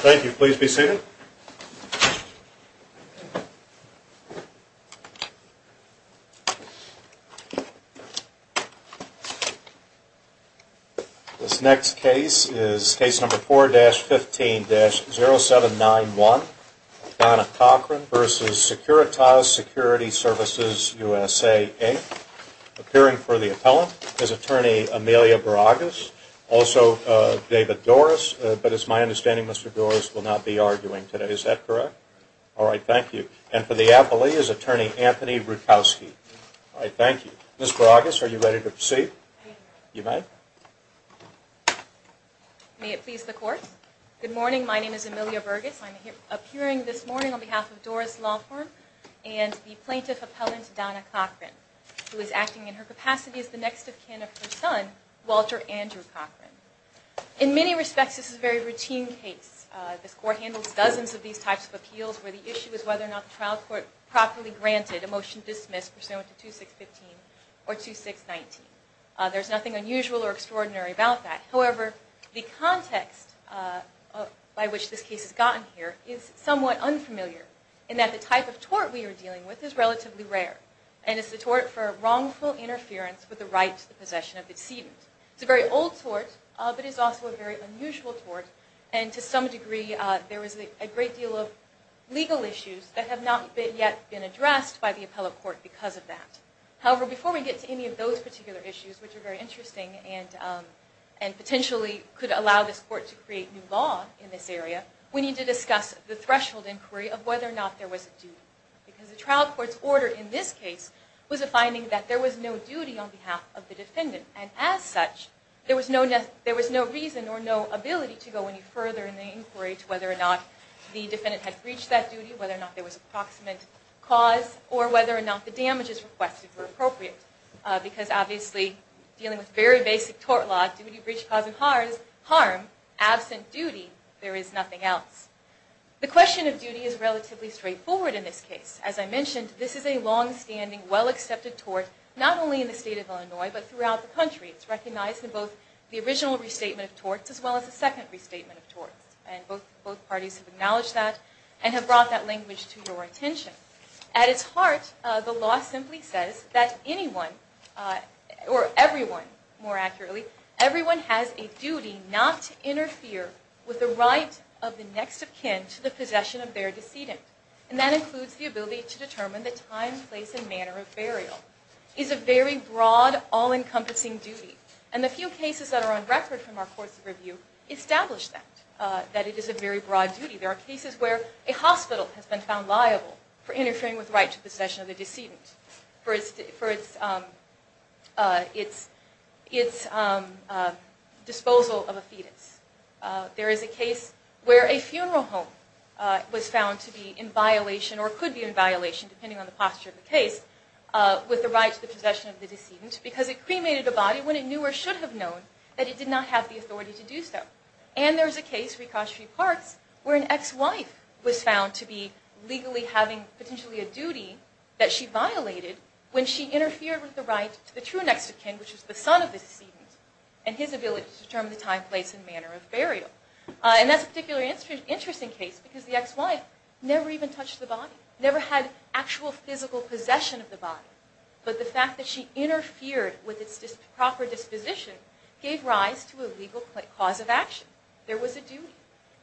Thank you. Please be seated. This next case is case number 4-15-0791, Donna Cochran v. Securitas Security Services USA, Inc. Appearing for the appellant is Attorney Amelia Baragas, also David Doris, but it's my understanding Mr. Doris will not be arguing today. Is that correct? All right. Thank you. And for the appellee is Attorney Anthony Rutkowski. All right. Thank you. Ms. Baragas, are you ready to proceed? I am ready. You may. May it please the Court. Good morning. My name is Amelia Baragas. I'm appearing this morning on behalf of Doris Lawform and the plaintiff appellant Donna Cochran, who is acting in her capacity as the next of kin of her son, Walter Andrew Cochran. In many respects, this is a very routine case. This Court handles dozens of these types of appeals where the issue is whether or not the trial court properly granted a motion dismissed pursuant to 2615 or 2619. There's nothing unusual or extraordinary about that. However, the context by which this case has gotten here is somewhat unfamiliar in that the type of tort we are dealing with is relatively rare. And it's the tort for wrongful interference with the right to the possession of the decedent. It's a very old tort, but it's also a very unusual tort. And to some degree, there is a great deal of legal issues that have not yet been addressed by the appellate court because of that. However, before we get to any of those particular issues, which are very interesting and potentially could allow this Court to create new law in this area, we need to discuss the threshold inquiry of whether or not there was a duty. Because the trial court's order in this case was a finding that there was no duty on behalf of the defendant. And as such, there was no reason or no ability to go any further in the inquiry to whether or not the defendant had breached that duty, whether or not there was an approximate cause, or whether or not the damages requested were appropriate. Because obviously, dealing with very basic tort law, duty, breach, cause, and harm, absent duty, there is nothing else. The question of duty is relatively straightforward in this case. As I mentioned, this is a longstanding, well-accepted tort, not only in the state of Illinois, but throughout the country. It's recognized in both the original restatement of torts as well as the second restatement of torts. And both parties have acknowledged that and have brought that language to your attention. At its heart, the law simply says that anyone, or everyone more accurately, everyone has a duty not to interfere with the right of the next of kin to the possession of their decedent. And that includes the ability to determine the time, place, and manner of burial. It's a very broad, all-encompassing duty. And the few cases that are on record from our course of review establish that, that it is a very broad duty. There are cases where a hospital has been found liable for interfering with the right to the possession of a decedent, for its disposal of a fetus. There is a case where a funeral home was found to be in violation, or could be in violation, depending on the posture of the case, with the right to the possession of the decedent, because it cremated a body when it knew, or should have known, that it did not have the authority to do so. And there is a case, Ricochet v. Parks, where an ex-wife was found to be legally having potentially a duty that she violated when she interfered with the right to the true next of kin, which is the son of the decedent, and his ability to determine the time, place, and manner of burial. And that's a particularly interesting case because the ex-wife never even touched the body, never had actual physical possession of the body. But the fact that she interfered with its proper disposition gave rise to a legal cause of action. There was a duty.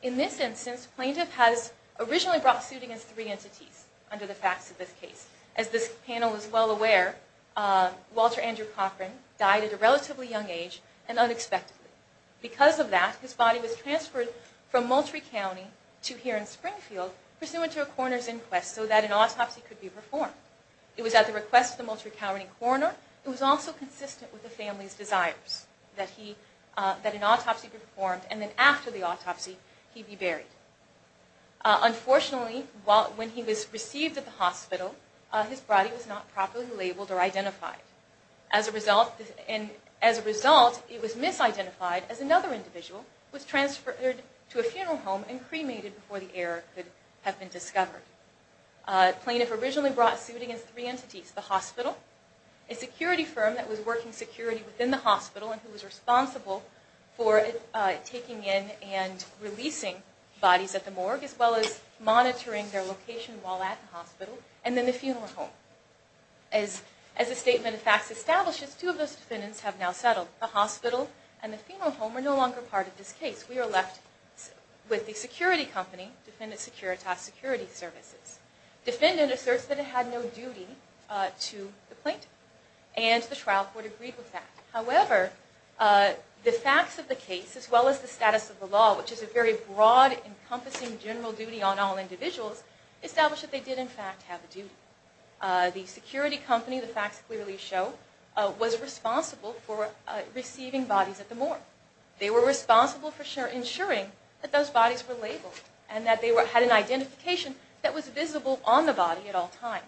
In this instance, plaintiff has originally brought suit against three entities under the facts of this case. As this panel is well aware, Walter Andrew Cochran died at a relatively young age and unexpectedly. Because of that, his body was transferred from Moultrie County to here in Springfield, pursuant to a coroner's inquest, so that an autopsy could be performed. It was at the request of the Moultrie County coroner. It was also consistent with the family's desires that an autopsy be performed, and then after the autopsy, he be buried. Unfortunately, when he was received at the hospital, his body was not properly labeled or identified. As a result, it was misidentified as another individual, was transferred to a funeral home, and cremated before the error could have been discovered. Plaintiff originally brought suit against three entities. The hospital, a security firm that was working security within the hospital, and who was responsible for taking in and releasing bodies at the morgue, as well as monitoring their location while at the hospital, and then the funeral home. As the statement of facts establishes, two of those defendants have now settled. The hospital and the funeral home are no longer part of this case. We are left with the security company, Defendant Securitas Security Services. Defendant asserts that it had no duty to the plaintiff, and the trial court agreed with that. However, the facts of the case, as well as the status of the law, which is a very broad, encompassing general duty on all individuals, establish that they did in fact have a duty. The security company, the facts clearly show, was responsible for receiving bodies at the morgue. They were responsible for ensuring that those bodies were labeled, and that they had an identification that was visible on the body at all times.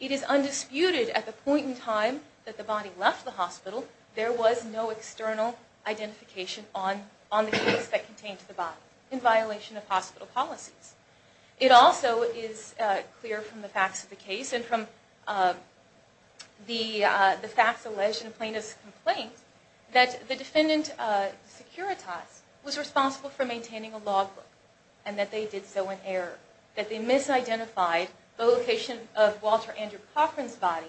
It is undisputed, at the point in time that the body left the hospital, there was no external identification on the case that contained the body, in violation of hospital policies. It also is clear from the facts of the case, and from the facts alleged in the plaintiff's complaint, that the defendant, Securitas, was responsible for maintaining a logbook, and that they did so in error. That they misidentified the location of Walter Andrew Cochran's body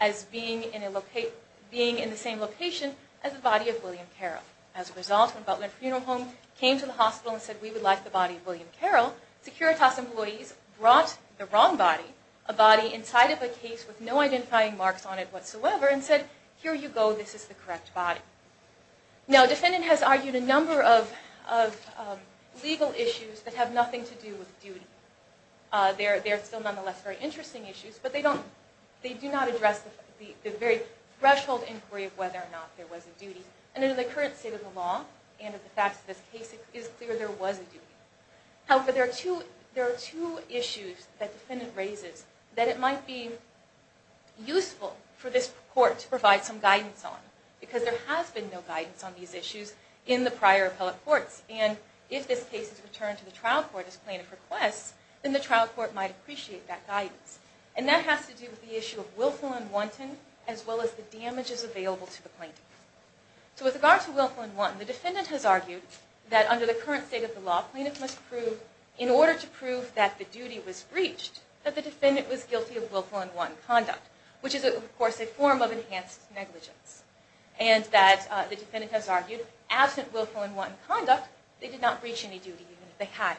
as being in the same location as the body of William Carroll. As a result, when Butler Funeral Home came to the hospital and said, we would like the body of William Carroll, Securitas employees brought the wrong body, a body inside of a case with no identifying marks on it whatsoever, and said, here you go, this is the correct body. Now, the defendant has argued a number of legal issues that have nothing to do with duty. They are still nonetheless very interesting issues, but they do not address the very threshold inquiry of whether or not there was a duty. And in the current state of the law, and in the facts of this case, it is clear there was a duty. However, there are two issues that the defendant raises, that it might be useful for this court to provide some guidance on, because there has been no guidance on these issues in the prior appellate courts. And if this case is returned to the trial court as plaintiff requests, then the trial court might appreciate that guidance. And that has to do with the issue of willful and wanton, as well as the damages available to the plaintiff. So with regard to willful and wanton, the defendant has argued that under the current state of the law, the plaintiff must prove, in order to prove that the duty was breached, that the defendant was guilty of willful and wanton conduct, which is, of course, a form of enhanced negligence. And that the defendant has argued, absent willful and wanton conduct, they did not breach any duty, even if they had.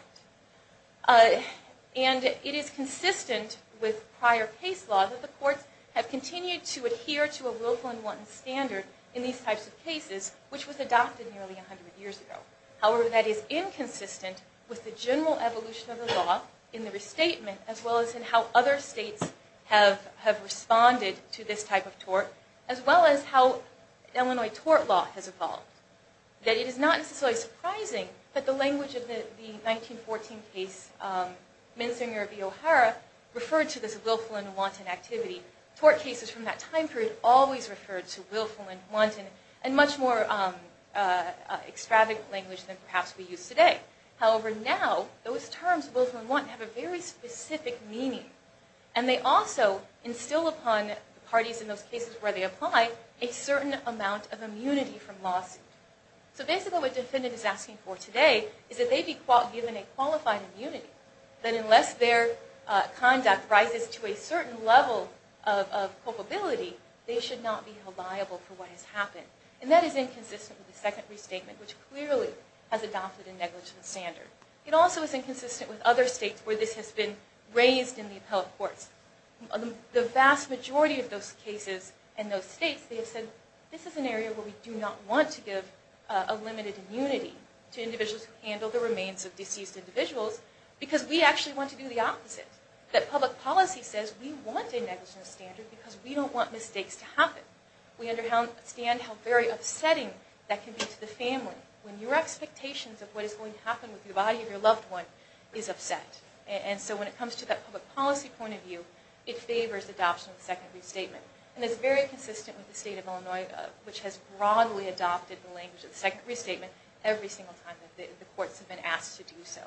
And it is consistent with prior case law that the courts have continued to adhere to a willful and wanton standard in these types of cases, which was adopted nearly 100 years ago. However, that is inconsistent with the general evolution of the law in the restatement, as well as in how other states have responded to this type of tort, as well as how Illinois tort law has evolved. That it is not necessarily surprising that the language of the 1914 case, Menzinger v. O'Hara, referred to this willful and wanton activity. Tort cases from that time period always referred to willful and wanton, and much more extravagant language than perhaps we use today. However, now, those terms, willful and wanton, have a very specific meaning. And they also instill upon the parties in those cases where they apply a certain amount of immunity from lawsuit. So basically, what the defendant is asking for today is that they be given a qualified immunity, that unless their conduct rises to a certain level of culpability, they should not be held liable for what has happened. And that is inconsistent with the second restatement, which clearly has adopted a negligence standard. It also is inconsistent with other states where this has been raised in the appellate courts. The vast majority of those cases in those states, they have said, this is an area where we do not want to give a limited immunity to individuals who handle the remains of deceased individuals, because we actually want to do the opposite. That public policy says we want a negligence standard because we don't want mistakes to happen. We understand how very upsetting that can be to the family when your expectations of what is going to happen with the body of your loved one is upset. And so when it comes to that public policy point of view, it favors adoption of the second restatement. And it's very consistent with the state of Illinois, which has broadly adopted the language of the second restatement every single time that the courts have been asked to do so.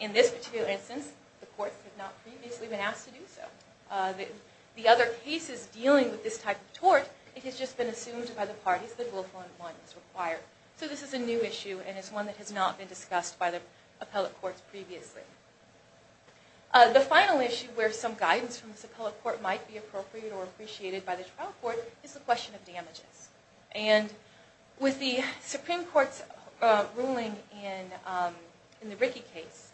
In this particular instance, the courts have not previously been asked to do so. The other cases dealing with this type of tort, it has just been assumed by the parties that willful employment is required. So this is a new issue, and it's one that has not been discussed by the appellate courts previously. The final issue where some guidance from this appellate court might be appropriate With the Supreme Court's ruling in the Rickey case,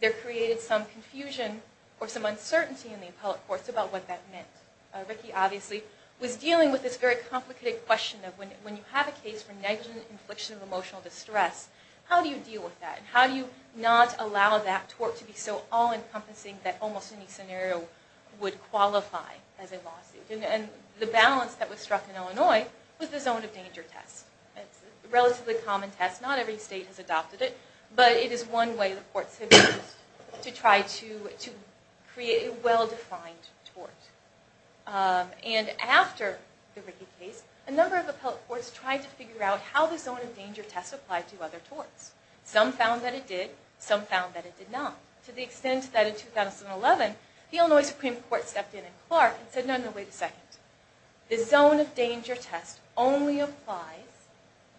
there created some confusion or some uncertainty in the appellate courts about what that meant. Rickey, obviously, was dealing with this very complicated question of when you have a case for negligent infliction of emotional distress, how do you deal with that? How do you not allow that tort to be so all-encompassing that almost any scenario would qualify as a lawsuit? And the balance that was struck in Illinois was the zone of danger test. It's a relatively common test, not every state has adopted it, but it is one way the courts have used to try to create a well-defined tort. And after the Rickey case, a number of appellate courts tried to figure out how the zone of danger test applied to other torts. Some found that it did, some found that it did not. To the extent that in 2011, the Illinois Supreme Court stepped in in Clark and said, no, no, wait a second. The zone of danger test only applies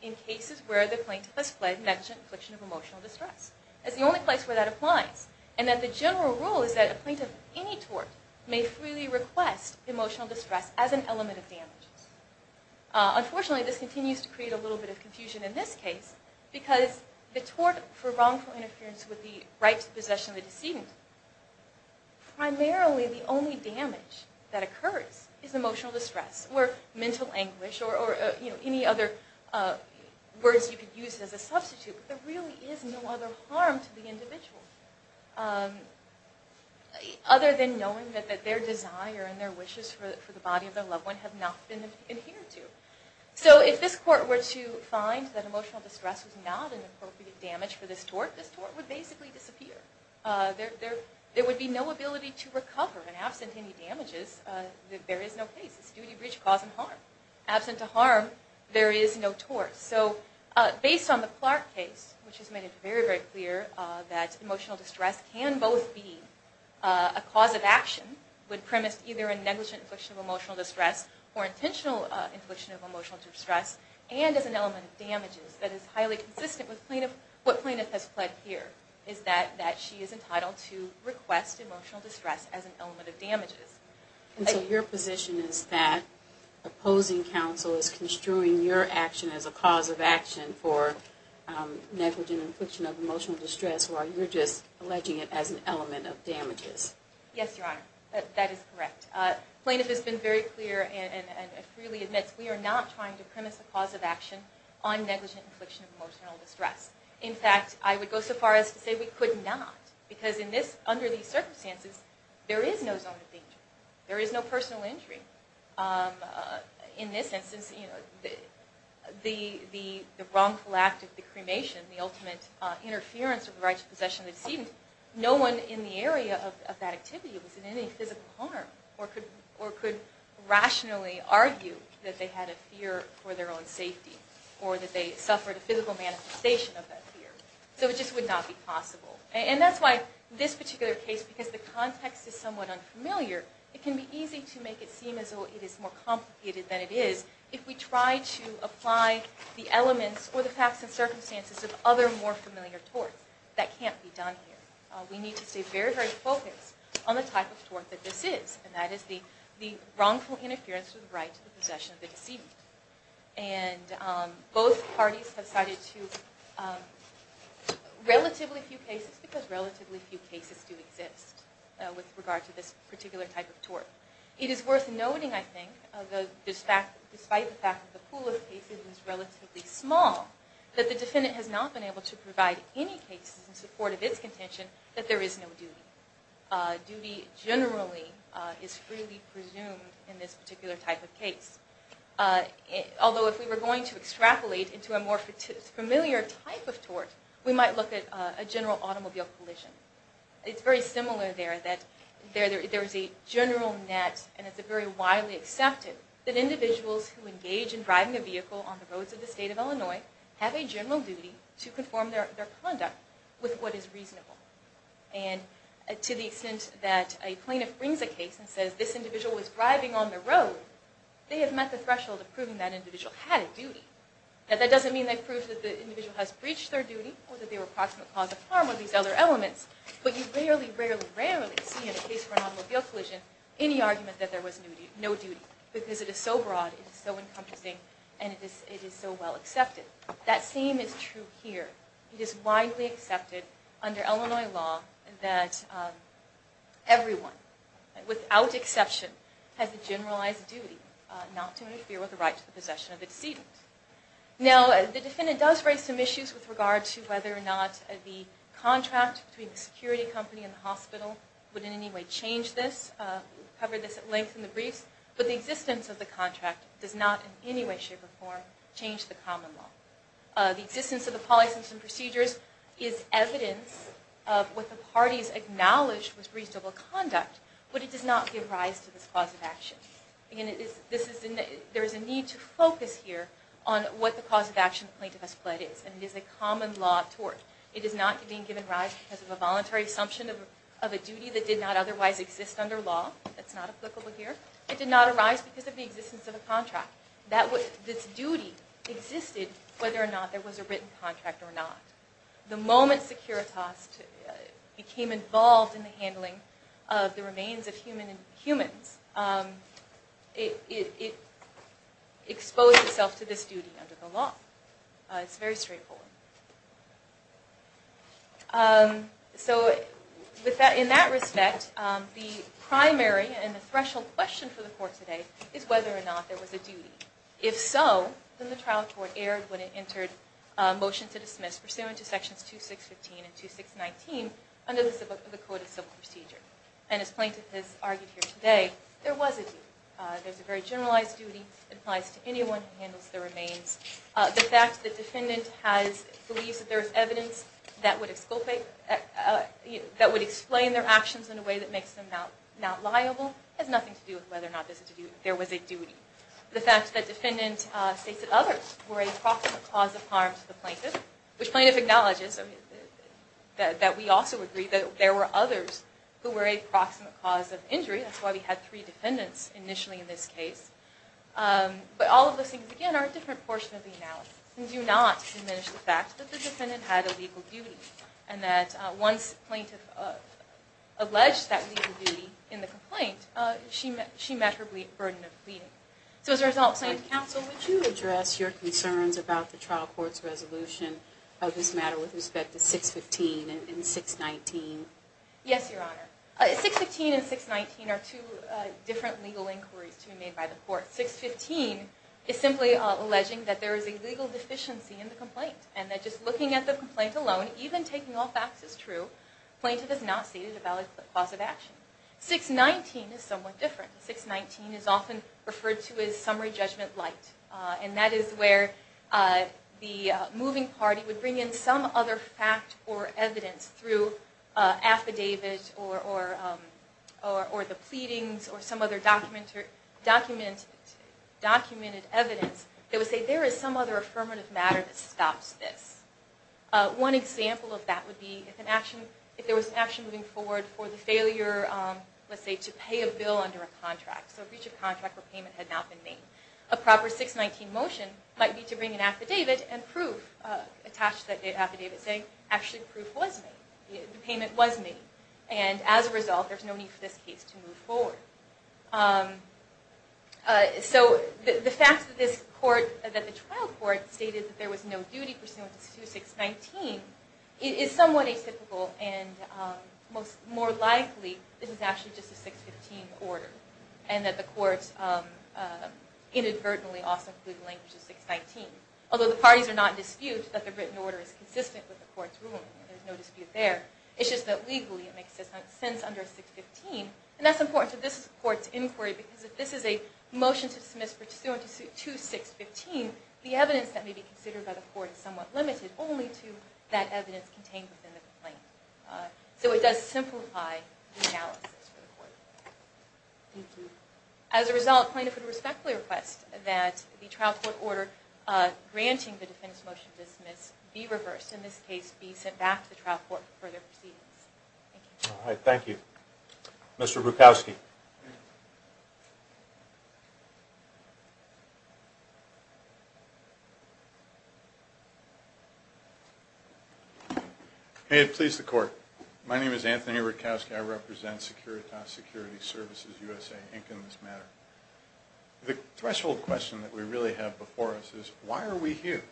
in cases where the plaintiff has fled negligent infliction of emotional distress. It's the only place where that applies. And that the general rule is that a plaintiff of any tort may freely request emotional distress as an element of damage. Unfortunately, this continues to create a little bit of confusion in this case because the tort for wrongful interference with the right to possession of the decedent, primarily the only damage that occurs is emotional distress or mental anguish or any other words you could use as a substitute. But there really is no other harm to the individual other than knowing that their desire and their wishes for the body of their loved one have not been adhered to. So if this court were to find that emotional distress was not an appropriate damage for this tort, this tort would basically disappear. There would be no ability to recover. And absent any damages, there is no case. It's duty, breach, cause, and harm. Absent a harm, there is no tort. So based on the Clark case, which has made it very, very clear that emotional distress can both be a cause of action when premised either in negligent infliction of emotional distress or intentional infliction of emotional distress and as an element of damages that is highly consistent with what plaintiff has fled here is that she is entitled to request emotional distress as an element of damages. And so your position is that opposing counsel is construing your action as a cause of action for negligent infliction of emotional distress while you're just alleging it as an element of damages. Yes, Your Honor. That is correct. Plaintiff has been very clear and freely admits we are not trying to premise a cause of action on negligent infliction of emotional distress. In fact, I would go so far as to say we could not because under these circumstances, there is no zone of danger. There is no personal injury. In this instance, the wrongful act of the cremation, the ultimate interference of the right to possession of the decedent, no one in the area of that activity was in any physical harm or could rationally argue that they had a fear for their own safety or that they suffered a physical manifestation of that fear. So it just would not be possible. And that's why this particular case, because the context is somewhat unfamiliar, it can be easy to make it seem as though it is more complicated than it is if we try to apply the elements or the facts and circumstances of other more familiar torts. That can't be done here. We need to stay very, very focused on the type of tort that this is, and that is the wrongful interference with the right to possession of the decedent. And both parties have cited relatively few cases because relatively few cases do exist with regard to this particular type of tort. It is worth noting, I think, despite the fact that the pool of cases is relatively small, that the defendant has not been able to provide any cases in support of his contention that there is no duty. Duty generally is freely presumed in this particular type of case. Although if we were going to extrapolate into a more familiar type of tort, we might look at a general automobile collision. It's very similar there. There is a general net, and it's very widely accepted, that individuals who engage in driving a vehicle on the roads of the state of Illinois have a general duty to conform their conduct with what is reasonable. And to the extent that a plaintiff brings a case and says, this individual was driving on the road, they have met the threshold of proving that individual had a duty. Now that doesn't mean they've proved that the individual has breached their duty or that they were a proximate cause of harm or these other elements, but you rarely, rarely, rarely see in a case for an automobile collision any argument that there was no duty because it is so broad, it is so encompassing, and it is so well accepted. That same is true here. It is widely accepted under Illinois law that everyone, without exception, has a generalized duty not to interfere with the right to the possession of the decedent. Now, the defendant does raise some issues with regard to whether or not the contract between the security company and the hospital would in any way change this. We've covered this at length in the briefs, but the existence of the contract does not in any way, shape, or form change the common law. The existence of the policy and procedures is evidence of what the parties acknowledge was reasonable conduct, but it does not give rise to this cause of action. There is a need to focus here on what the cause of action the plaintiff has pled is, and it is a common law of tort. It is not being given rise because of a voluntary assumption of a duty that did not otherwise exist under law. That's not applicable here. It did not arise because of the existence of a contract. This duty existed whether or not there was a written contract or not. The moment Securitas became involved in the handling of the remains of humans, it exposed itself to this duty under the law. It's a very straightforward one. So, in that respect, the primary and the threshold question for the court today is whether or not there was a duty. If so, then the trial court erred when it entered a motion to dismiss, pursuant to sections 2615 and 2619 under the Code of Civil Procedure. And as the plaintiff has argued here today, there was a duty. There's a very generalized duty that applies to anyone who handles the remains. The fact that the defendant believes that there is evidence that would explain their actions in a way that makes them not liable has nothing to do with whether or not there was a duty. The fact that defendant states that others were a proximate cause of harm to the plaintiff, which plaintiff acknowledges that we also agree that there were others who were a proximate cause of injury. That's why we had three defendants initially in this case. But all of those things, again, are a different portion of the analysis and do not diminish the fact that the defendant had a legal duty and that once plaintiff alleged that legal duty in the complaint, she met her burden of pleading. So as a result, Plaintiff Counsel, would you address your concerns about the trial court's resolution of this matter with respect to 615 and 619? Yes, Your Honor. 615 and 619 are two different legal inquiries to be made by the court. 615 is simply alleging that there is a legal deficiency in the complaint and that just looking at the complaint alone, even taking all facts as true, plaintiff has not stated a valid cause of action. 619 is somewhat different. 619 is often referred to as summary judgment light, and that is where the moving party would bring in some other fact or evidence through affidavits or the pleadings or some other documented evidence that would say there is some other affirmative matter that stops this. One example of that would be if there was an action moving forward for the failure, let's say, to pay a bill under a contract, so breach of contract where payment had not been made. A proper 619 motion might be to bring an affidavit and proof attached to that affidavit saying actually proof was made, the payment was made, and as a result there's no need for this case to move forward. So the fact that the trial court stated that there was no duty pursuant to 619 is somewhat atypical and more likely this is actually just a 615 order and that the court inadvertently also included language of 619, although the parties are not in dispute that the written order is consistent with the court's ruling. There's no dispute there. It's just that legally it makes sense under 615, and that's important to this court's inquiry because if this is a motion to dismiss pursuant to 615, the evidence that may be considered by the court is somewhat limited only to that evidence contained within the complaint. So it does simplify the analysis for the court. Thank you. As a result, plaintiffs would respectfully request that the trial court order granting the defense motion to dismiss be reversed, in this case be sent back to the trial court for further proceedings. Thank you. All right. Thank you. Mr. Rutkowski. May it please the court. My name is Anthony Rutkowski. I represent Securitas Security Services USA, Inc. in this matter. The threshold question that we really have before us is why are we here?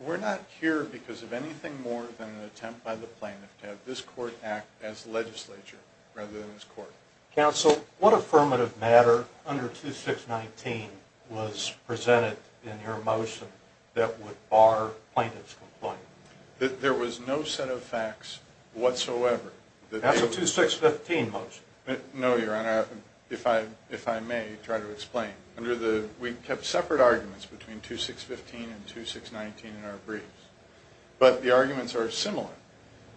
We're not here because of anything more than an attempt by the plaintiff to have this court act as legislature rather than as court. Counsel, what affirmative matter under 2619 was presented in your motion that would bar plaintiff's complaint? There was no set of facts whatsoever. That's a 2615 motion. No, Your Honor, if I may try to explain. We kept separate arguments between 2615 and 2619 in our briefs, but the arguments are similar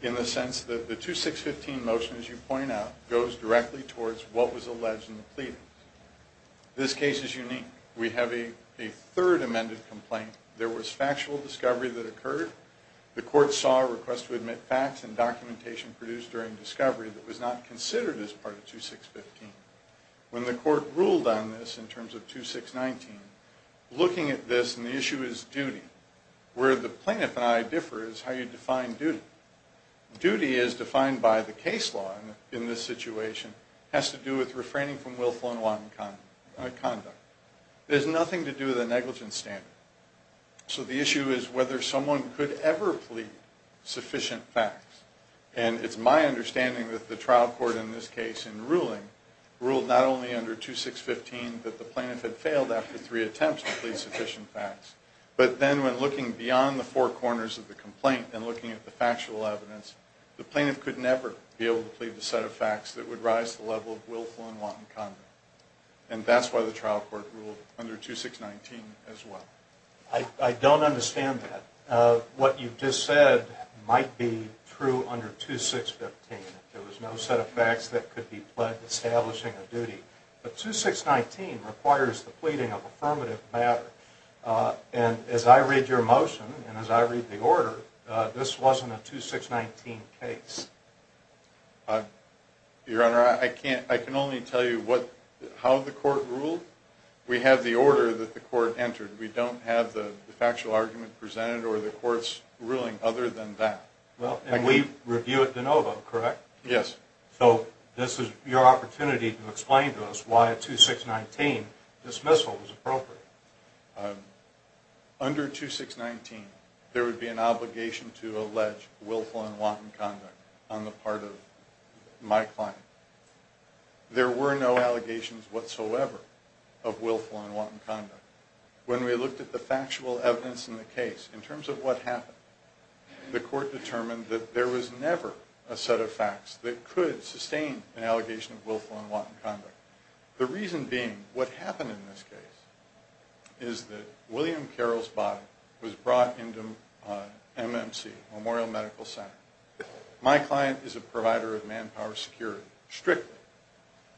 in the sense that the 2615 motion, as you point out, goes directly towards what was alleged in the pleadings. This case is unique. We have a third amended complaint. There was factual discovery that occurred. The court saw a request to admit facts and documentation produced during discovery that was not considered as part of 2615. When the court ruled on this in terms of 2619, looking at this, and the issue is duty. Where the plaintiff and I differ is how you define duty. Duty is defined by the case law in this situation. It has to do with refraining from willful and wanton conduct. It has nothing to do with a negligence standard. So the issue is whether someone could ever plead sufficient facts, and it's my understanding that the trial court in this case in ruling ruled not only under 2615 that the plaintiff had failed after three attempts to plead sufficient facts, but then when looking beyond the four corners of the complaint and looking at the factual evidence, the plaintiff could never be able to plead the set of facts that would rise to the level of willful and wanton conduct, and that's why the trial court ruled under 2619 as well. I don't understand that. What you've just said might be true under 2615. There was no set of facts that could be pledged establishing a duty. But 2619 requires the pleading of affirmative matter. And as I read your motion and as I read the order, this wasn't a 2619 case. Your Honor, I can only tell you how the court ruled. We have the order that the court entered. We don't have the factual argument presented or the court's ruling other than that. And we review it de novo, correct? Yes. So this is your opportunity to explain to us why a 2619 dismissal was appropriate. Under 2619, there would be an obligation to allege willful and wanton conduct on the part of my client. There were no allegations whatsoever of willful and wanton conduct. When we looked at the factual evidence in the case, in terms of what happened, the court determined that there was never a set of facts that could sustain an allegation of willful and wanton conduct. The reason being what happened in this case is that William Carroll's body was brought into MMC, Memorial Medical Center. My client is a provider of manpower security, strictly.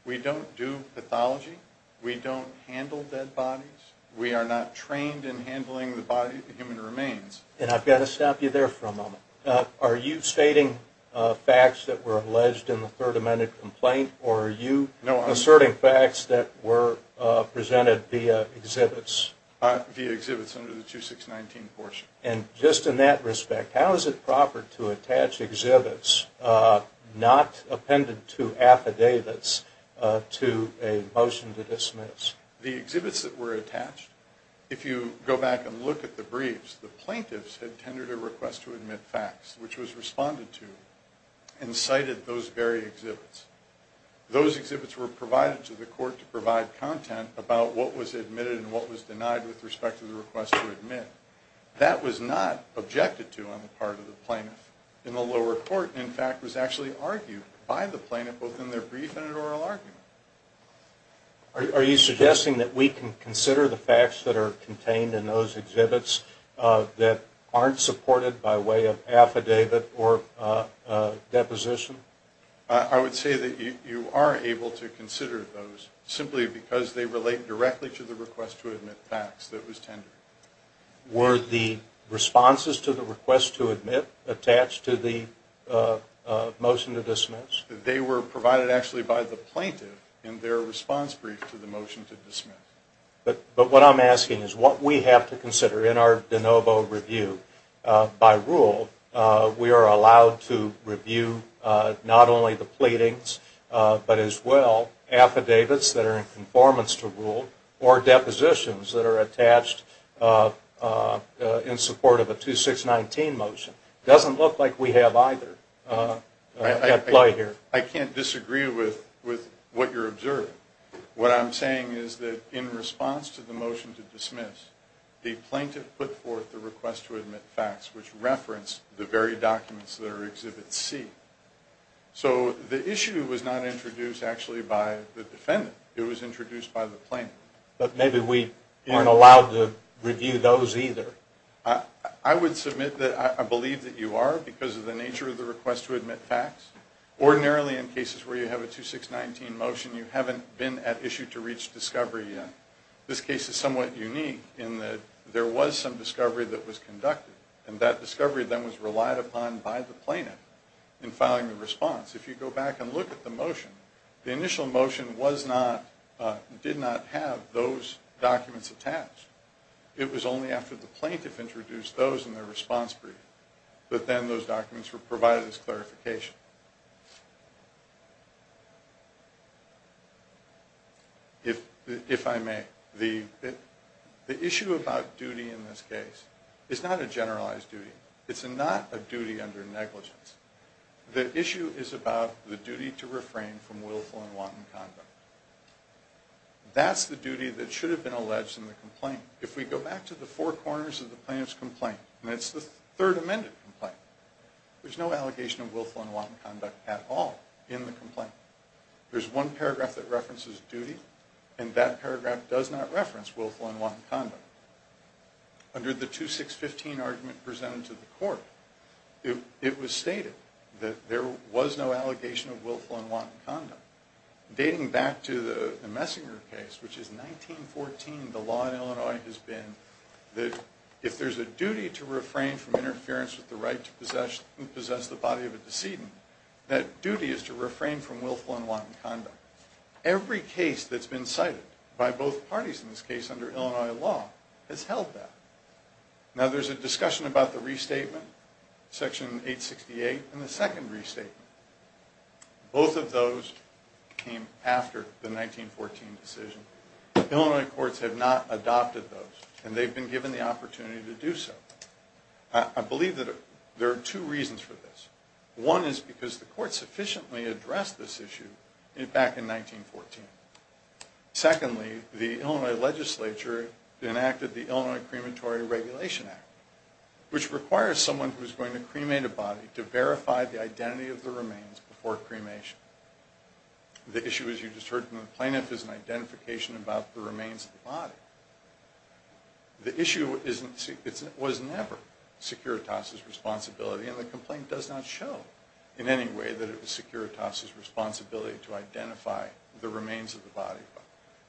We don't do pathology. We don't handle dead bodies. We are not trained in handling the human remains. And I've got to stop you there for a moment. Are you stating facts that were alleged in the Third Amendment complaint, or are you asserting facts that were presented via exhibits? Via exhibits under the 2619 portion. And just in that respect, how is it proper to attach exhibits not appended to affidavits to a motion to dismiss? The exhibits that were attached, if you go back and look at the briefs, the plaintiffs had tendered a request to admit facts, which was responded to, and cited those very exhibits. Those exhibits were provided to the court to provide content about what was admitted and what was denied with respect to the request to admit. That was not objected to on the part of the plaintiff. In the lower court, in fact, it was actually argued by the plaintiff both in their brief and in oral argument. Are you suggesting that we can consider the facts that are contained in those exhibits that aren't supported by way of affidavit or deposition? I would say that you are able to consider those simply because they relate directly to the request to admit facts that was tendered. Were the responses to the request to admit attached to the motion to dismiss? They were provided actually by the plaintiff in their response brief to the motion to dismiss. But what I'm asking is what we have to consider in our de novo review. By rule, we are allowed to review not only the pleadings, but as well affidavits that are in conformance to rule or depositions that are attached in support of a 2619 motion. It doesn't look like we have either at play here. I can't disagree with what you're observing. What I'm saying is that in response to the motion to dismiss, the plaintiff put forth the request to admit facts, which referenced the very documents that are in Exhibit C. So the issue was not introduced actually by the defendant. It was introduced by the plaintiff. But maybe we aren't allowed to review those either. I would submit that I believe that you are because of the nature of the request to admit facts. Ordinarily in cases where you have a 2619 motion, you haven't been at issue to reach discovery yet. This case is somewhat unique in that there was some discovery that was conducted, and that discovery then was relied upon by the plaintiff in filing the response. If you go back and look at the motion, the initial motion did not have those documents attached. It was only after the plaintiff introduced those in their response brief that then those documents were provided as clarification. If I may, the issue about duty in this case is not a generalized duty. It's not a duty under negligence. The issue is about the duty to refrain from willful and wanton conduct. That's the duty that should have been alleged in the complaint. If we go back to the four corners of the plaintiff's complaint, and it's the third amended complaint, there's no allegation of willful and wanton conduct at all in the complaint. There's one paragraph that references duty, and that paragraph does not reference willful and wanton conduct. Under the 2615 argument presented to the court, it was stated that there was no allegation of willful and wanton conduct. Dating back to the Messinger case, which is 1914, the law in Illinois has been that if there's a duty to refrain from interference with the right to possess the body of a decedent, that duty is to refrain from willful and wanton conduct. Every case that's been cited by both parties in this case under Illinois law has held that. Now there's a discussion about the restatement, Section 868, and the second restatement. Both of those came after the 1914 decision. Illinois courts have not adopted those, and they've been given the opportunity to do so. I believe that there are two reasons for this. One is because the court sufficiently addressed this issue back in 1914. Secondly, the Illinois legislature enacted the Illinois Crematory Regulation Act, which requires someone who is going to cremate a body to verify the identity of the remains before cremation. The issue, as you just heard from the plaintiff, is an identification about the remains of the body. The issue was never Securitas' responsibility, and the complaint does not show in any way that it was Securitas' responsibility to identify the remains of the body.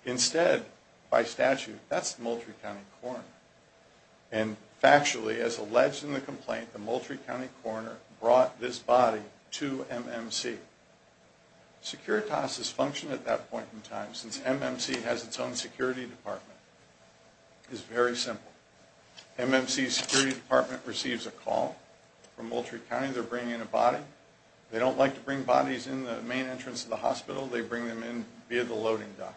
Instead, by statute, that's the Moultrie County Coroner. And factually, as alleged in the complaint, the Moultrie County Coroner brought this body to MMC. Securitas' function at that point in time, since MMC has its own security department, is very simple. MMC's security department receives a call from Moultrie County. They're bringing in a body. They don't like to bring bodies in the main entrance of the hospital. They bring them in via the loading dock.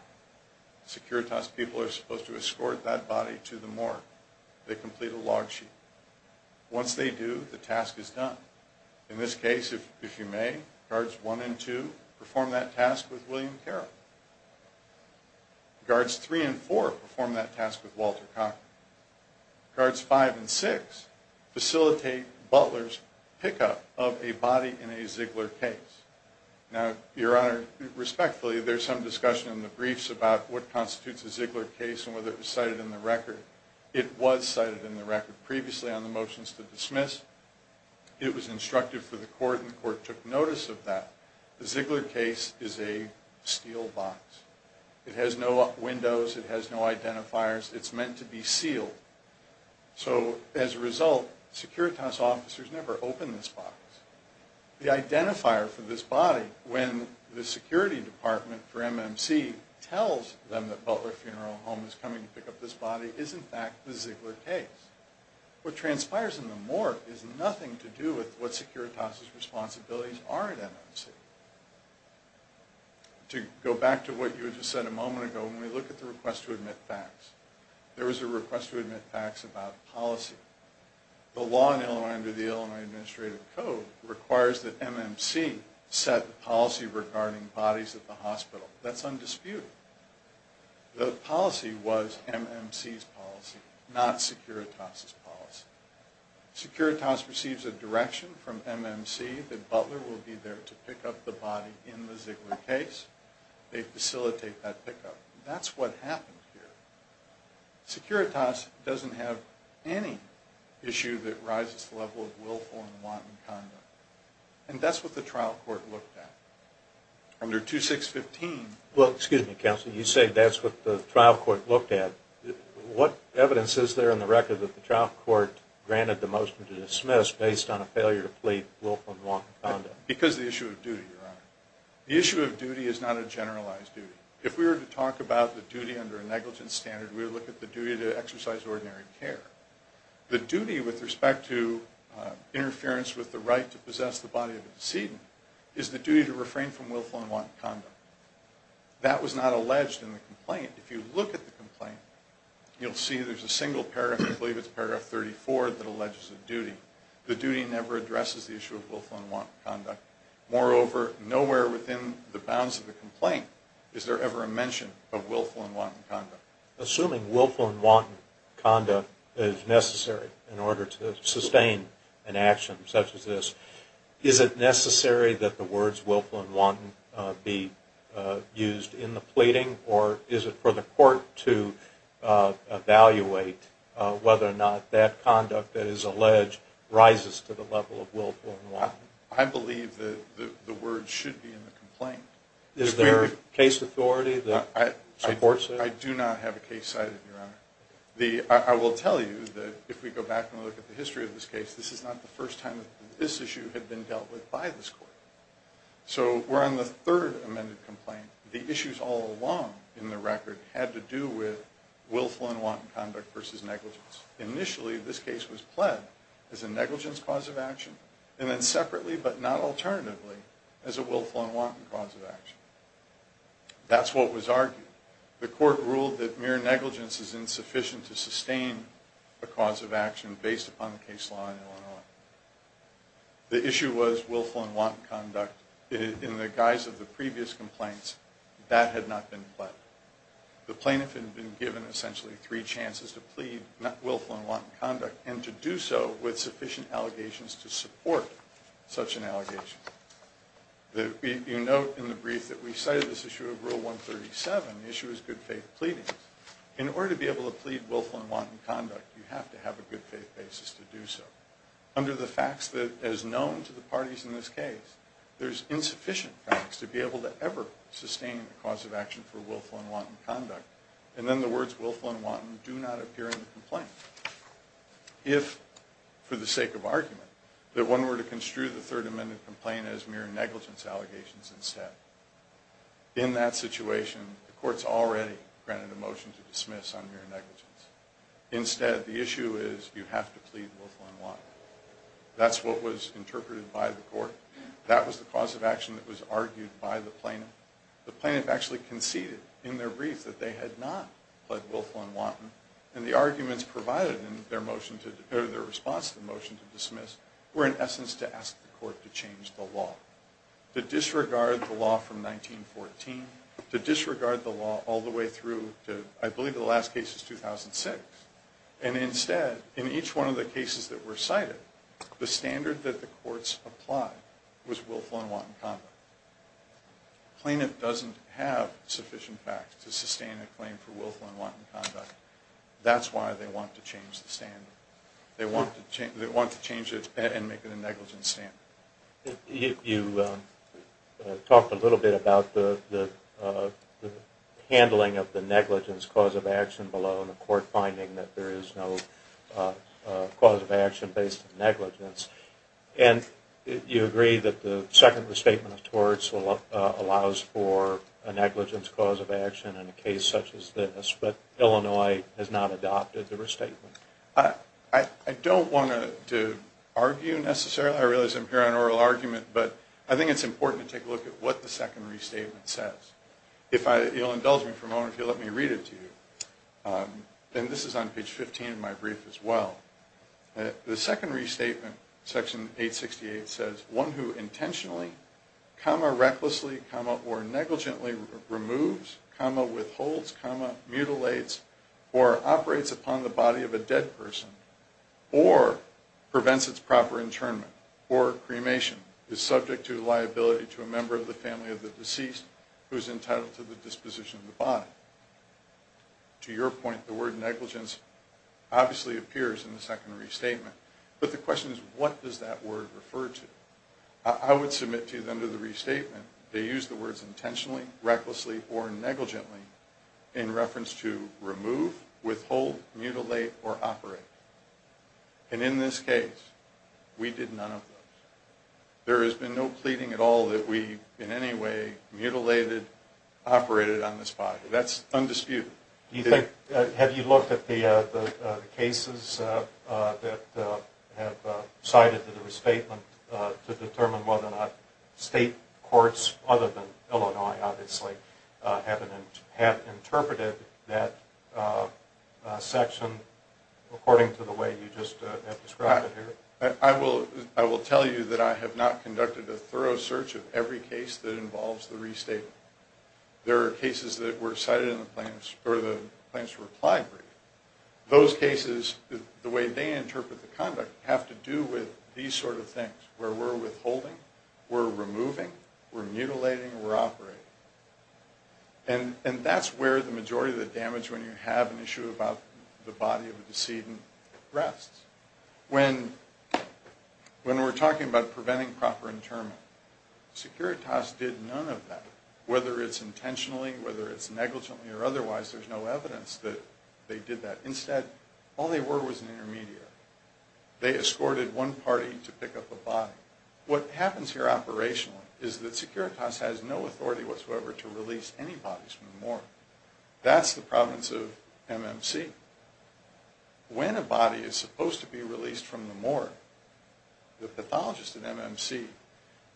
Securitas people are supposed to escort that body to the morgue. They complete a log sheet. Once they do, the task is done. In this case, if you may, Guards 1 and 2 perform that task with William Carroll. Guards 3 and 4 perform that task with Walter Cochran. Guards 5 and 6 facilitate Butler's pickup of a body in a Ziegler case. Now, Your Honor, respectfully, there's some discussion in the briefs about what constitutes a Ziegler case and whether it was cited in the record. It was cited in the record previously on the motions to dismiss. It was instructed for the court, and the court took notice of that. The Ziegler case is a steel box. It has no windows. It has no identifiers. It's meant to be sealed. So as a result, Securitas officers never open this box. The identifier for this body, when the security department for MMC tells them that Butler Funeral Home is coming to pick up this body, is in fact the Ziegler case. What transpires in the morgue is nothing to do with what Securitas' responsibilities are at MMC. To go back to what you just said a moment ago, when we look at the request to admit facts, there was a request to admit facts about policy. The law in Illinois under the Illinois Administrative Code requires that MMC set the policy regarding bodies at the hospital. That's undisputed. The policy was MMC's policy, not Securitas' policy. Securitas receives a direction from MMC that Butler will be there to pick up the body in the Ziegler case. They facilitate that pickup. That's what happened here. Securitas doesn't have any issue that rises to the level of willful and wanton conduct. And that's what the trial court looked at. Under 2615... Well, excuse me, Counselor, you say that's what the trial court looked at. What evidence is there in the record that the trial court granted the motion to dismiss based on a failure to plead willful and wanton conduct? Because of the issue of duty, Your Honor. The issue of duty is not a generalized duty. If we were to talk about the duty under a negligence standard, we would look at the duty to exercise ordinary care. The duty with respect to interference with the right to possess the body of a decedent is the duty to refrain from willful and wanton conduct. That was not alleged in the complaint. If you look at the complaint, you'll see there's a single paragraph, I believe it's paragraph 34, that alleges a duty. The duty never addresses the issue of willful and wanton conduct. Moreover, nowhere within the bounds of the complaint is there ever a mention of willful and wanton conduct. Assuming willful and wanton conduct is necessary in order to sustain an action such as this, is it necessary that the words willful and wanton be used in the pleading, or is it for the court to evaluate whether or not that conduct that is alleged rises to the level of willful and wanton? I believe that the words should be in the complaint. Is there a case authority that supports it? I do not have a case cited, Your Honor. I will tell you that if we go back and look at the history of this case, this is not the first time that this issue had been dealt with by this court. So we're on the third amended complaint. The issues all along in the record had to do with willful and wanton conduct versus negligence. Initially, this case was pled as a negligence cause of action, and then separately, but not alternatively, as a willful and wanton cause of action. That's what was argued. The court ruled that mere negligence is insufficient to sustain a cause of action based upon the case law and so on. The issue was willful and wanton conduct. In the guise of the previous complaints, that had not been pled. The plaintiff had been given essentially three chances to plead willful and such an allegation. You note in the brief that we cited this issue of Rule 137, the issue is good faith pleadings. In order to be able to plead willful and wanton conduct, you have to have a good faith basis to do so. Under the facts that is known to the parties in this case, there's insufficient facts to be able to ever sustain a cause of action for willful and wanton conduct, and then the words willful and wanton do not appear in the complaint. If, for the sake of argument, that one were to construe the Third Amendment complaint as mere negligence allegations instead, in that situation, the court's already granted a motion to dismiss on mere negligence. Instead, the issue is you have to plead willful and wanton. That's what was interpreted by the court. That was the cause of action that was argued by the plaintiff. The plaintiff actually conceded in their brief that they had not pled willful and wanton, and the arguments provided in their response to the motion to dismiss were, in essence, to ask the court to change the law, to disregard the law from 1914, to disregard the law all the way through to, I believe, the last case is 2006. Instead, in each one of the cases that were cited, the standard that the courts applied was willful and wanton conduct. The plaintiff doesn't have sufficient facts to sustain a claim for willful and wanton conduct. That's why they want to change the standard. They want to change it and make it a negligence standard. You talked a little bit about the handling of the negligence cause of action below, and the court finding that there is no cause of action based on negligence. You agree that the second restatement of torts allows for a negligence cause of action in a case such as this, but Illinois has not adopted the restatement. I don't want to argue necessarily. I realize I'm here on oral argument, but I think it's important to take a look at what the second restatement says. You'll indulge me for a moment if you'll let me read it to you. This is on page 15 of my brief as well. The second restatement, section 868, says one who intentionally, recklessly, or negligently removes, withholds, mutilates, or operates upon the body of a dead person or prevents its proper internment or cremation is subject to liability to a member of the family of the deceased who is entitled to the disposition of the body. To your point, the word negligence obviously appears in the second restatement, but the question is what does that word refer to? I would submit to you that under the restatement they use the words intentionally, recklessly, or negligently in reference to remove, withhold, mutilate, or operate. And in this case, we did none of those. There has been no pleading at all that we in any way mutilated, operated on this body. That's undisputed. Do you think, have you looked at the cases that have cited the restatement to determine whether or not state courts, other than Illinois obviously, have interpreted that section according to the way you just have described it here? I will tell you that I have not conducted a thorough search of every case that involves the restatement. There are cases that were cited in the plaintiff's reply brief. Those cases, the way they interpret the conduct, have to do with these sort of things where we're withholding, we're removing, we're mutilating, we're operating. And that's where the majority of the damage when you have an issue about the body of the decedent rests. When we're talking about preventing proper interment, Securitas did none of that. Whether it's intentionally, whether it's negligently or otherwise, there's no evidence that they did that. Instead, all they were was an intermediary. They escorted one party to pick up a body. What happens here operationally is that Securitas has no authority whatsoever to release any bodies from the morgue. That's the province of MMC. When a body is supposed to be released from the morgue, the pathologist at MMC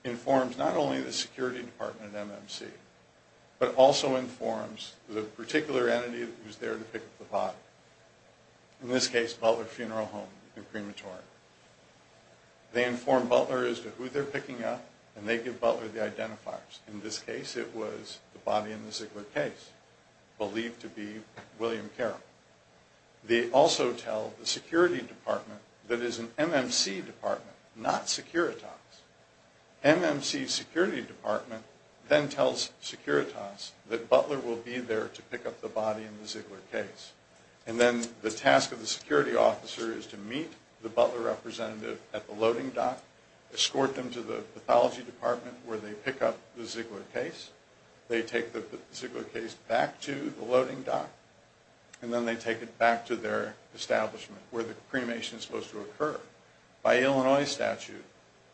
informs not only the security department at MMC, but also informs the particular entity who's there to pick up the body. In this case, Butler Funeral Home and Crematory. They inform Butler as to who they're picking up, and they give Butler the identifiers. In this case, it was the body in the Ziegler case, believed to be William Carroll. They also tell the security department, that is an MMC department, not Securitas. MMC's security department then tells Securitas that Butler will be there to pick up the body in the Ziegler case. Then the task of the security officer is to meet the Butler representative at the loading dock, escort them to the pathology department where they pick up the Ziegler case. They take the Ziegler case back to the loading dock. Then they take it back to their establishment, where the cremation is supposed to occur. By Illinois statute,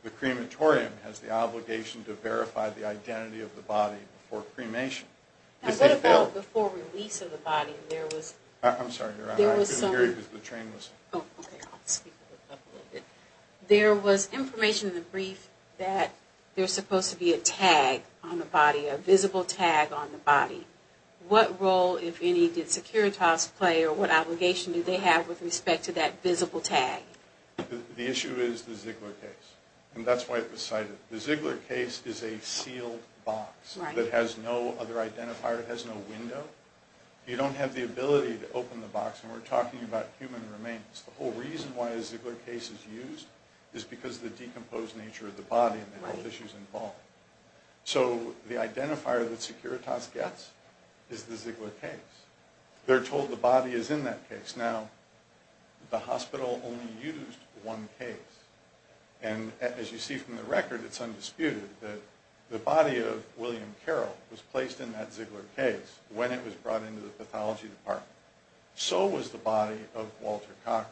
the crematorium has the obligation to verify the identity of the body before cremation. What about before release of the body? I'm sorry, Your Honor. I didn't hear you because the train was... Oh, okay. I'll speak up a little bit. There was information in the brief that there's supposed to be a tag on the body, a visible tag on the body. What role, if any, did Securitas play or what obligation did they have with respect to that visible tag? The issue is the Ziegler case, and that's why it was cited. The Ziegler case is a sealed box that has no other identifier. It has no window. You don't have the ability to open the box, and we're talking about human remains. The whole reason why a Ziegler case is used is because of the decomposed nature of the body and the health issues involved. So the identifier that Securitas gets is the Ziegler case. They're told the body is in that case. Now, the hospital only used one case, and as you see from the record, it's undisputed that the body of William Carroll was placed in that Ziegler case when it was brought into the pathology department. So was the body of Walter Cochran.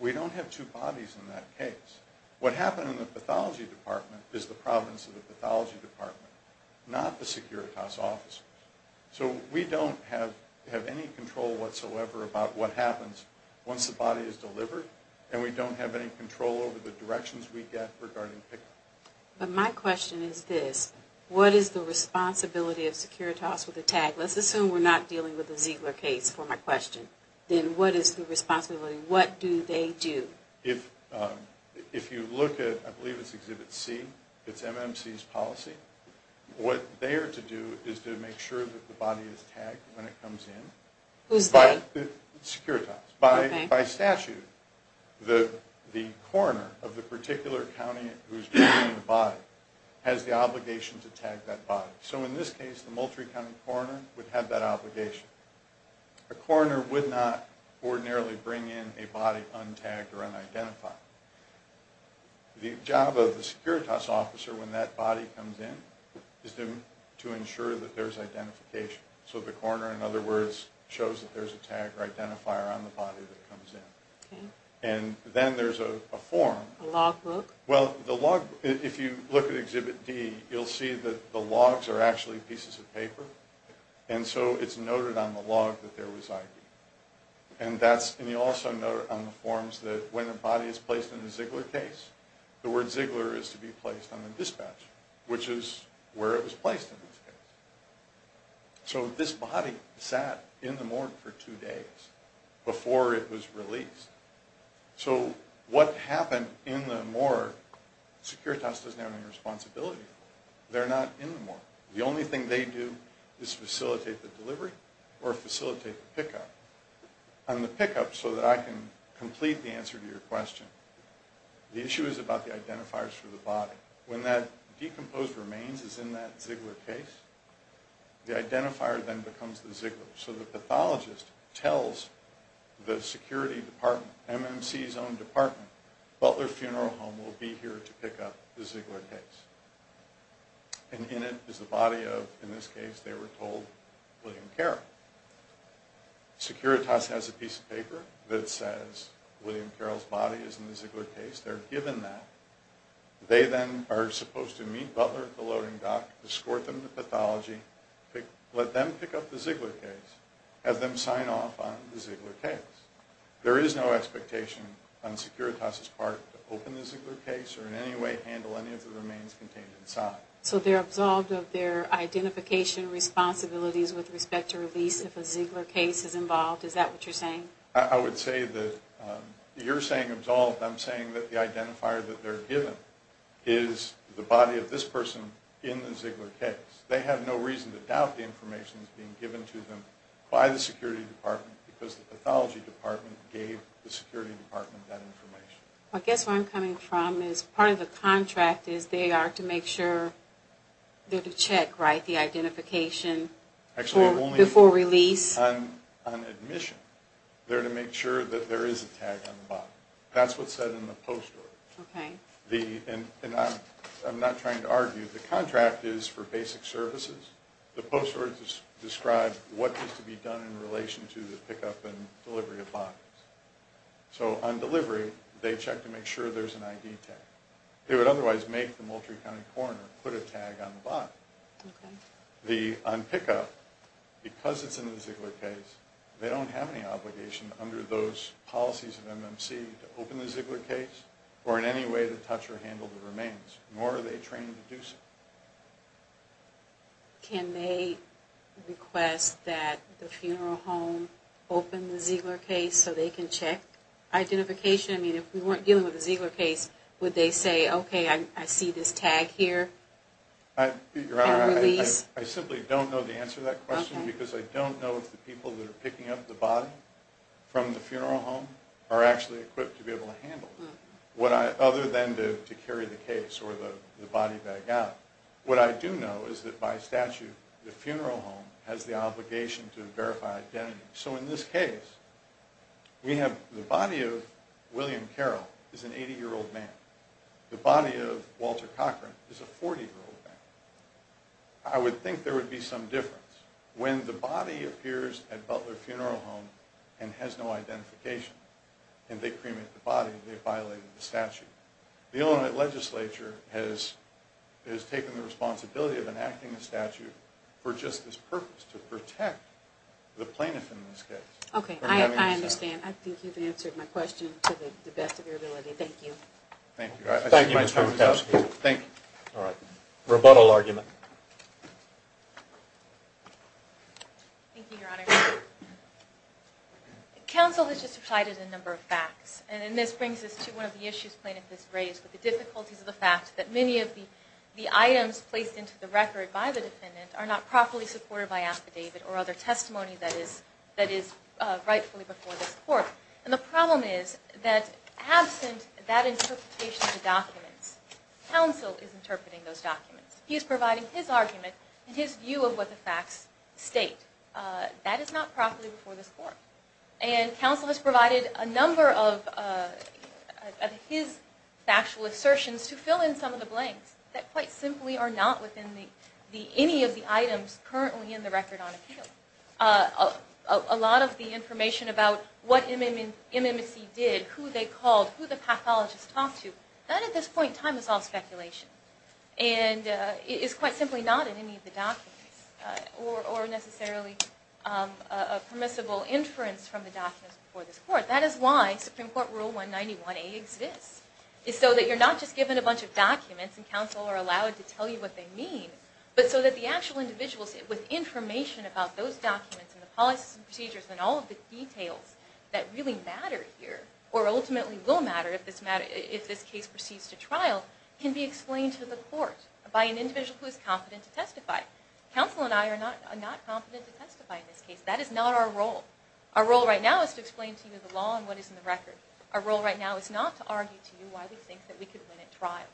We don't have two bodies in that case. What happened in the pathology department is the problems of the pathology department, not the Securitas officers. So we don't have any control whatsoever about what happens once the body is delivered, and we don't have any control over the directions we get regarding pickup. But my question is this. What is the responsibility of Securitas with the tag? Let's assume we're not dealing with the Ziegler case for my question. Then what is the responsibility? What do they do? If you look at, I believe it's Exhibit C, it's MMC's policy. What they are to do is to make sure that the body is tagged when it comes in. Who's they? Securitas. By statute, the coroner of the particular county who's bringing the body has the obligation to tag that body. So in this case, the Moultrie County coroner would have that obligation. A coroner would not ordinarily bring in a body untagged or unidentified. The job of the Securitas officer, when that body comes in, is to ensure that there's identification. So the coroner, in other words, shows that there's a tag or identifier on the body that comes in. And then there's a form. A log book. Well, if you look at Exhibit D, you'll see that the logs are actually pieces of paper. And so it's noted on the log that there was ID. And you also note on the forms that when the body is placed in the Ziegler case, the word Ziegler is to be placed on the dispatch, which is where it was placed in this case. So this body sat in the morgue for two days before it was released. So what happened in the morgue, Securitas doesn't have any responsibility for it. They're not in the morgue. The only thing they do is facilitate the delivery or facilitate the pickup. On the pickup, so that I can complete the answer to your question, the issue is about the identifiers for the body. When that decomposed remains is in that Ziegler case, the identifier then becomes the Ziegler. So the pathologist tells the security department, MMC's own department, Butler Funeral Home will be here to pick up the Ziegler case. And in it is the body of, in this case, they were told, William Carroll. Securitas has a piece of paper that says William Carroll's body is in the Ziegler case. They're given that. They then are supposed to meet Butler at the loading dock, escort them to pathology, let them pick up the Ziegler case, have them sign off on the Ziegler case. There is no expectation on Securitas's part to open the Ziegler case or in any way handle any of the remains contained inside. So they're absolved of their identification responsibilities with respect to release if a Ziegler case is involved. Is that what you're saying? I would say that you're saying absolved. I'm saying that the identifier that they're given is the body of this person in the Ziegler case. They have no reason to doubt the information that's being given to them by the security department because the pathology department gave the security department that information. I guess where I'm coming from is part of the contract is they are to make sure they're to check, right, the identification before release. Actually, on admission, they're to make sure that there is a tag on the body. That's what's said in the post order. Okay. And I'm not trying to argue. The contract is for basic services. The post order describes what needs to be done in relation to the pickup and delivery of bodies. So on delivery, they check to make sure there's an ID tag. They would otherwise make the Moultrie County coroner put a tag on the body. Okay. On pickup, because it's in the Ziegler case, they don't have any obligation under those policies of MMC to open the Ziegler case or in any way to touch or handle the remains. Nor are they trained to do so. Can they request that the funeral home open the Ziegler case so they can check identification? I mean, if we weren't dealing with the Ziegler case, would they say, okay, I see this tag here and release? Your Honor, I simply don't know the answer to that question because I don't know if the people that are picking up the body from the funeral home are actually equipped to be able to handle it. Other than to carry the case or the body bag out, what I do know is that by statute, the funeral home has the obligation to verify identity. So in this case, the body of William Carroll is an 80-year-old man. The body of Walter Cochran is a 40-year-old man. I would think there would be some difference. When the body appears at Butler Funeral Home and has no identification and they cremate the body, they violate the statute. The Illinois legislature has taken the responsibility of enacting the statute for just this purpose, to protect the plaintiff in this case. Okay. I understand. I think you've answered my question to the best of your ability. Thank you. Thank you. Thank you, Mr. McCaskill. Thank you. All right. Rebuttal argument. Thank you, Your Honor. Counsel has just cited a number of facts. And this brings us to one of the issues plaintiff has raised with the difficulties of the fact that many of the items placed into the record by the defendant are not properly supported by affidavit or other testimony that is rightfully before this court. And the problem is that absent that interpretation of the documents, counsel is interpreting those documents. He is providing his argument and his view of what the facts state. That is not properly before this court. And counsel has provided a number of his factual assertions to fill in some of the blanks that quite simply are not within any of the items currently in the record on appeal. A lot of the information about what MMSC did, who they called, who the pathologists talked to, that at this point in time is all speculation and is quite simply not in any of the documents or necessarily a permissible inference from the documents before this court. That is why Supreme Court Rule 191A exists is so that you're not just given a bunch of documents and counsel are allowed to tell you what they mean, but so that the actual individuals with information about those documents and the policies and procedures and all of the details that really matter here or by an individual who is competent to testify. Counsel and I are not competent to testify in this case. That is not our role. Our role right now is to explain to you the law and what is in the record. Our role right now is not to argue to you why we think that we could win at trial.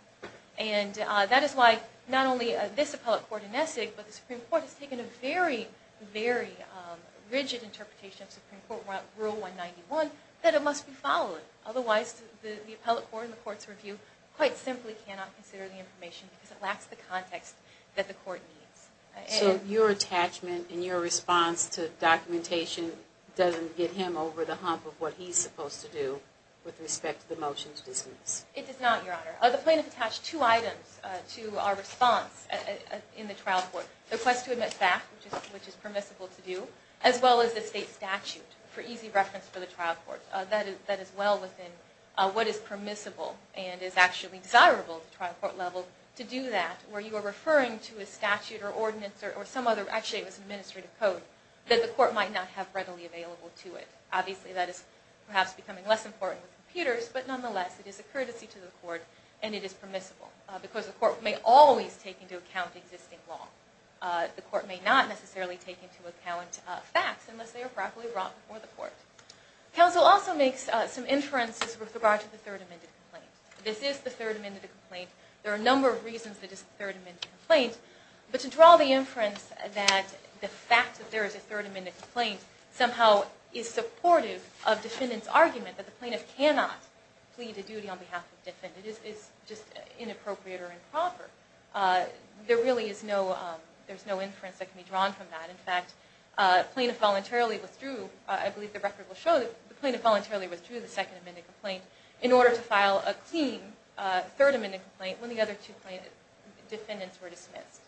And that is why not only this appellate court in Nessig, but the Supreme Court has taken a very, very rigid interpretation of Supreme Court Rule 191 that it must be followed. Otherwise, the appellate court and the court's review quite simply cannot consider the information because it lacks the context that the court needs. So your attachment and your response to documentation doesn't get him over the hump of what he's supposed to do with respect to the motions dismissed? It does not, Your Honor. The plaintiff attached two items to our response in the trial court. The request to admit staff, which is permissible to do, as well as the state statute for easy reference for the trial court. That is well within what is permissible and is actually desirable to trial court level to do that where you are referring to a statute or ordinance or some other, actually it was administrative code, that the court might not have readily available to it. Obviously that is perhaps becoming less important with computers, but nonetheless it is a courtesy to the court and it is permissible because the court may always take into account existing law. The court may not necessarily take into account facts unless they are properly brought before the court. Counsel also makes some inferences with regard to the third amended complaint. This is the third amended complaint. There are a number of reasons that it is the third amended complaint, but to draw the inference that the fact that there is a third amended complaint somehow is supportive of defendant's argument that the plaintiff cannot plead a duty on behalf of the defendant is just inappropriate or improper. There really is no inference that can be drawn from that. In fact, the plaintiff voluntarily withdrew, I believe the record will show that the plaintiff voluntarily withdrew the third amended complaint when the other two defendants were dismissed.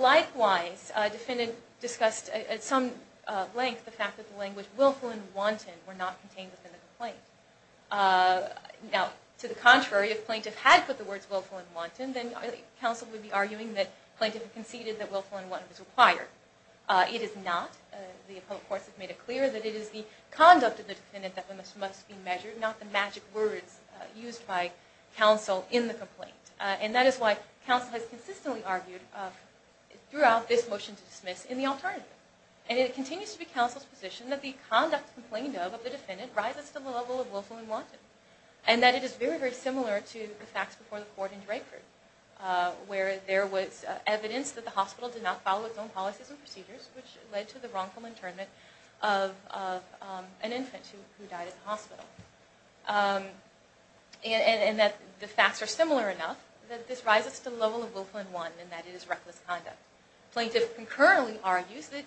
Likewise, defendant discussed at some length the fact that the language willful and wanton were not contained within the complaint. Now, to the contrary, if plaintiff had put the words willful and wanton, then counsel would be arguing that plaintiff conceded that willful and wanton was required. It is not. Not the magic words used by counsel in the complaint. And that is why counsel has consistently argued throughout this motion to dismiss in the alternative. And it continues to be counsel's position that the conduct complained of of the defendant rises to the level of willful and wanton. And that it is very, very similar to the facts before the court in Drakeford, where there was evidence that the hospital did not follow its own policies and procedures, which led to the wrongful internment of an infant who died at the hospital. And that the facts are similar enough that this rises to the level of willful and wanton, and that it is reckless conduct. Plaintiff concurrently argues that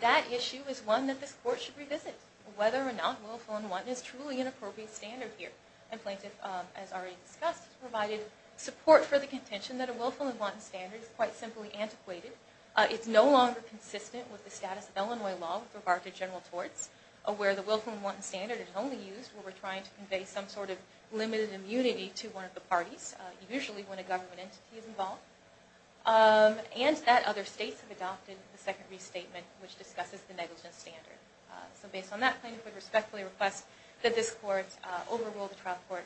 that issue is one that this court should revisit, whether or not willful and wanton is truly an appropriate standard here. And plaintiff, as already discussed, has provided support for the contention that a willful and wanton standard is quite simply antiquated. It's no longer consistent with the status of Illinois law with regard to willful and wanton standard. It's only used when we're trying to convey some sort of limited immunity to one of the parties, usually when a government entity is involved. And that other states have adopted the second restatement, which discusses the negligence standard. So based on that, plaintiff would respectfully request that this court overrule the trial court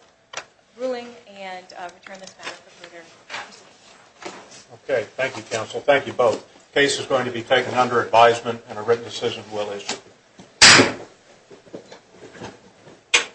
ruling and return this matter for further consideration. Okay. Thank you, counsel. Thank you both. The case is going to be taken under advisement and a written decision will issue.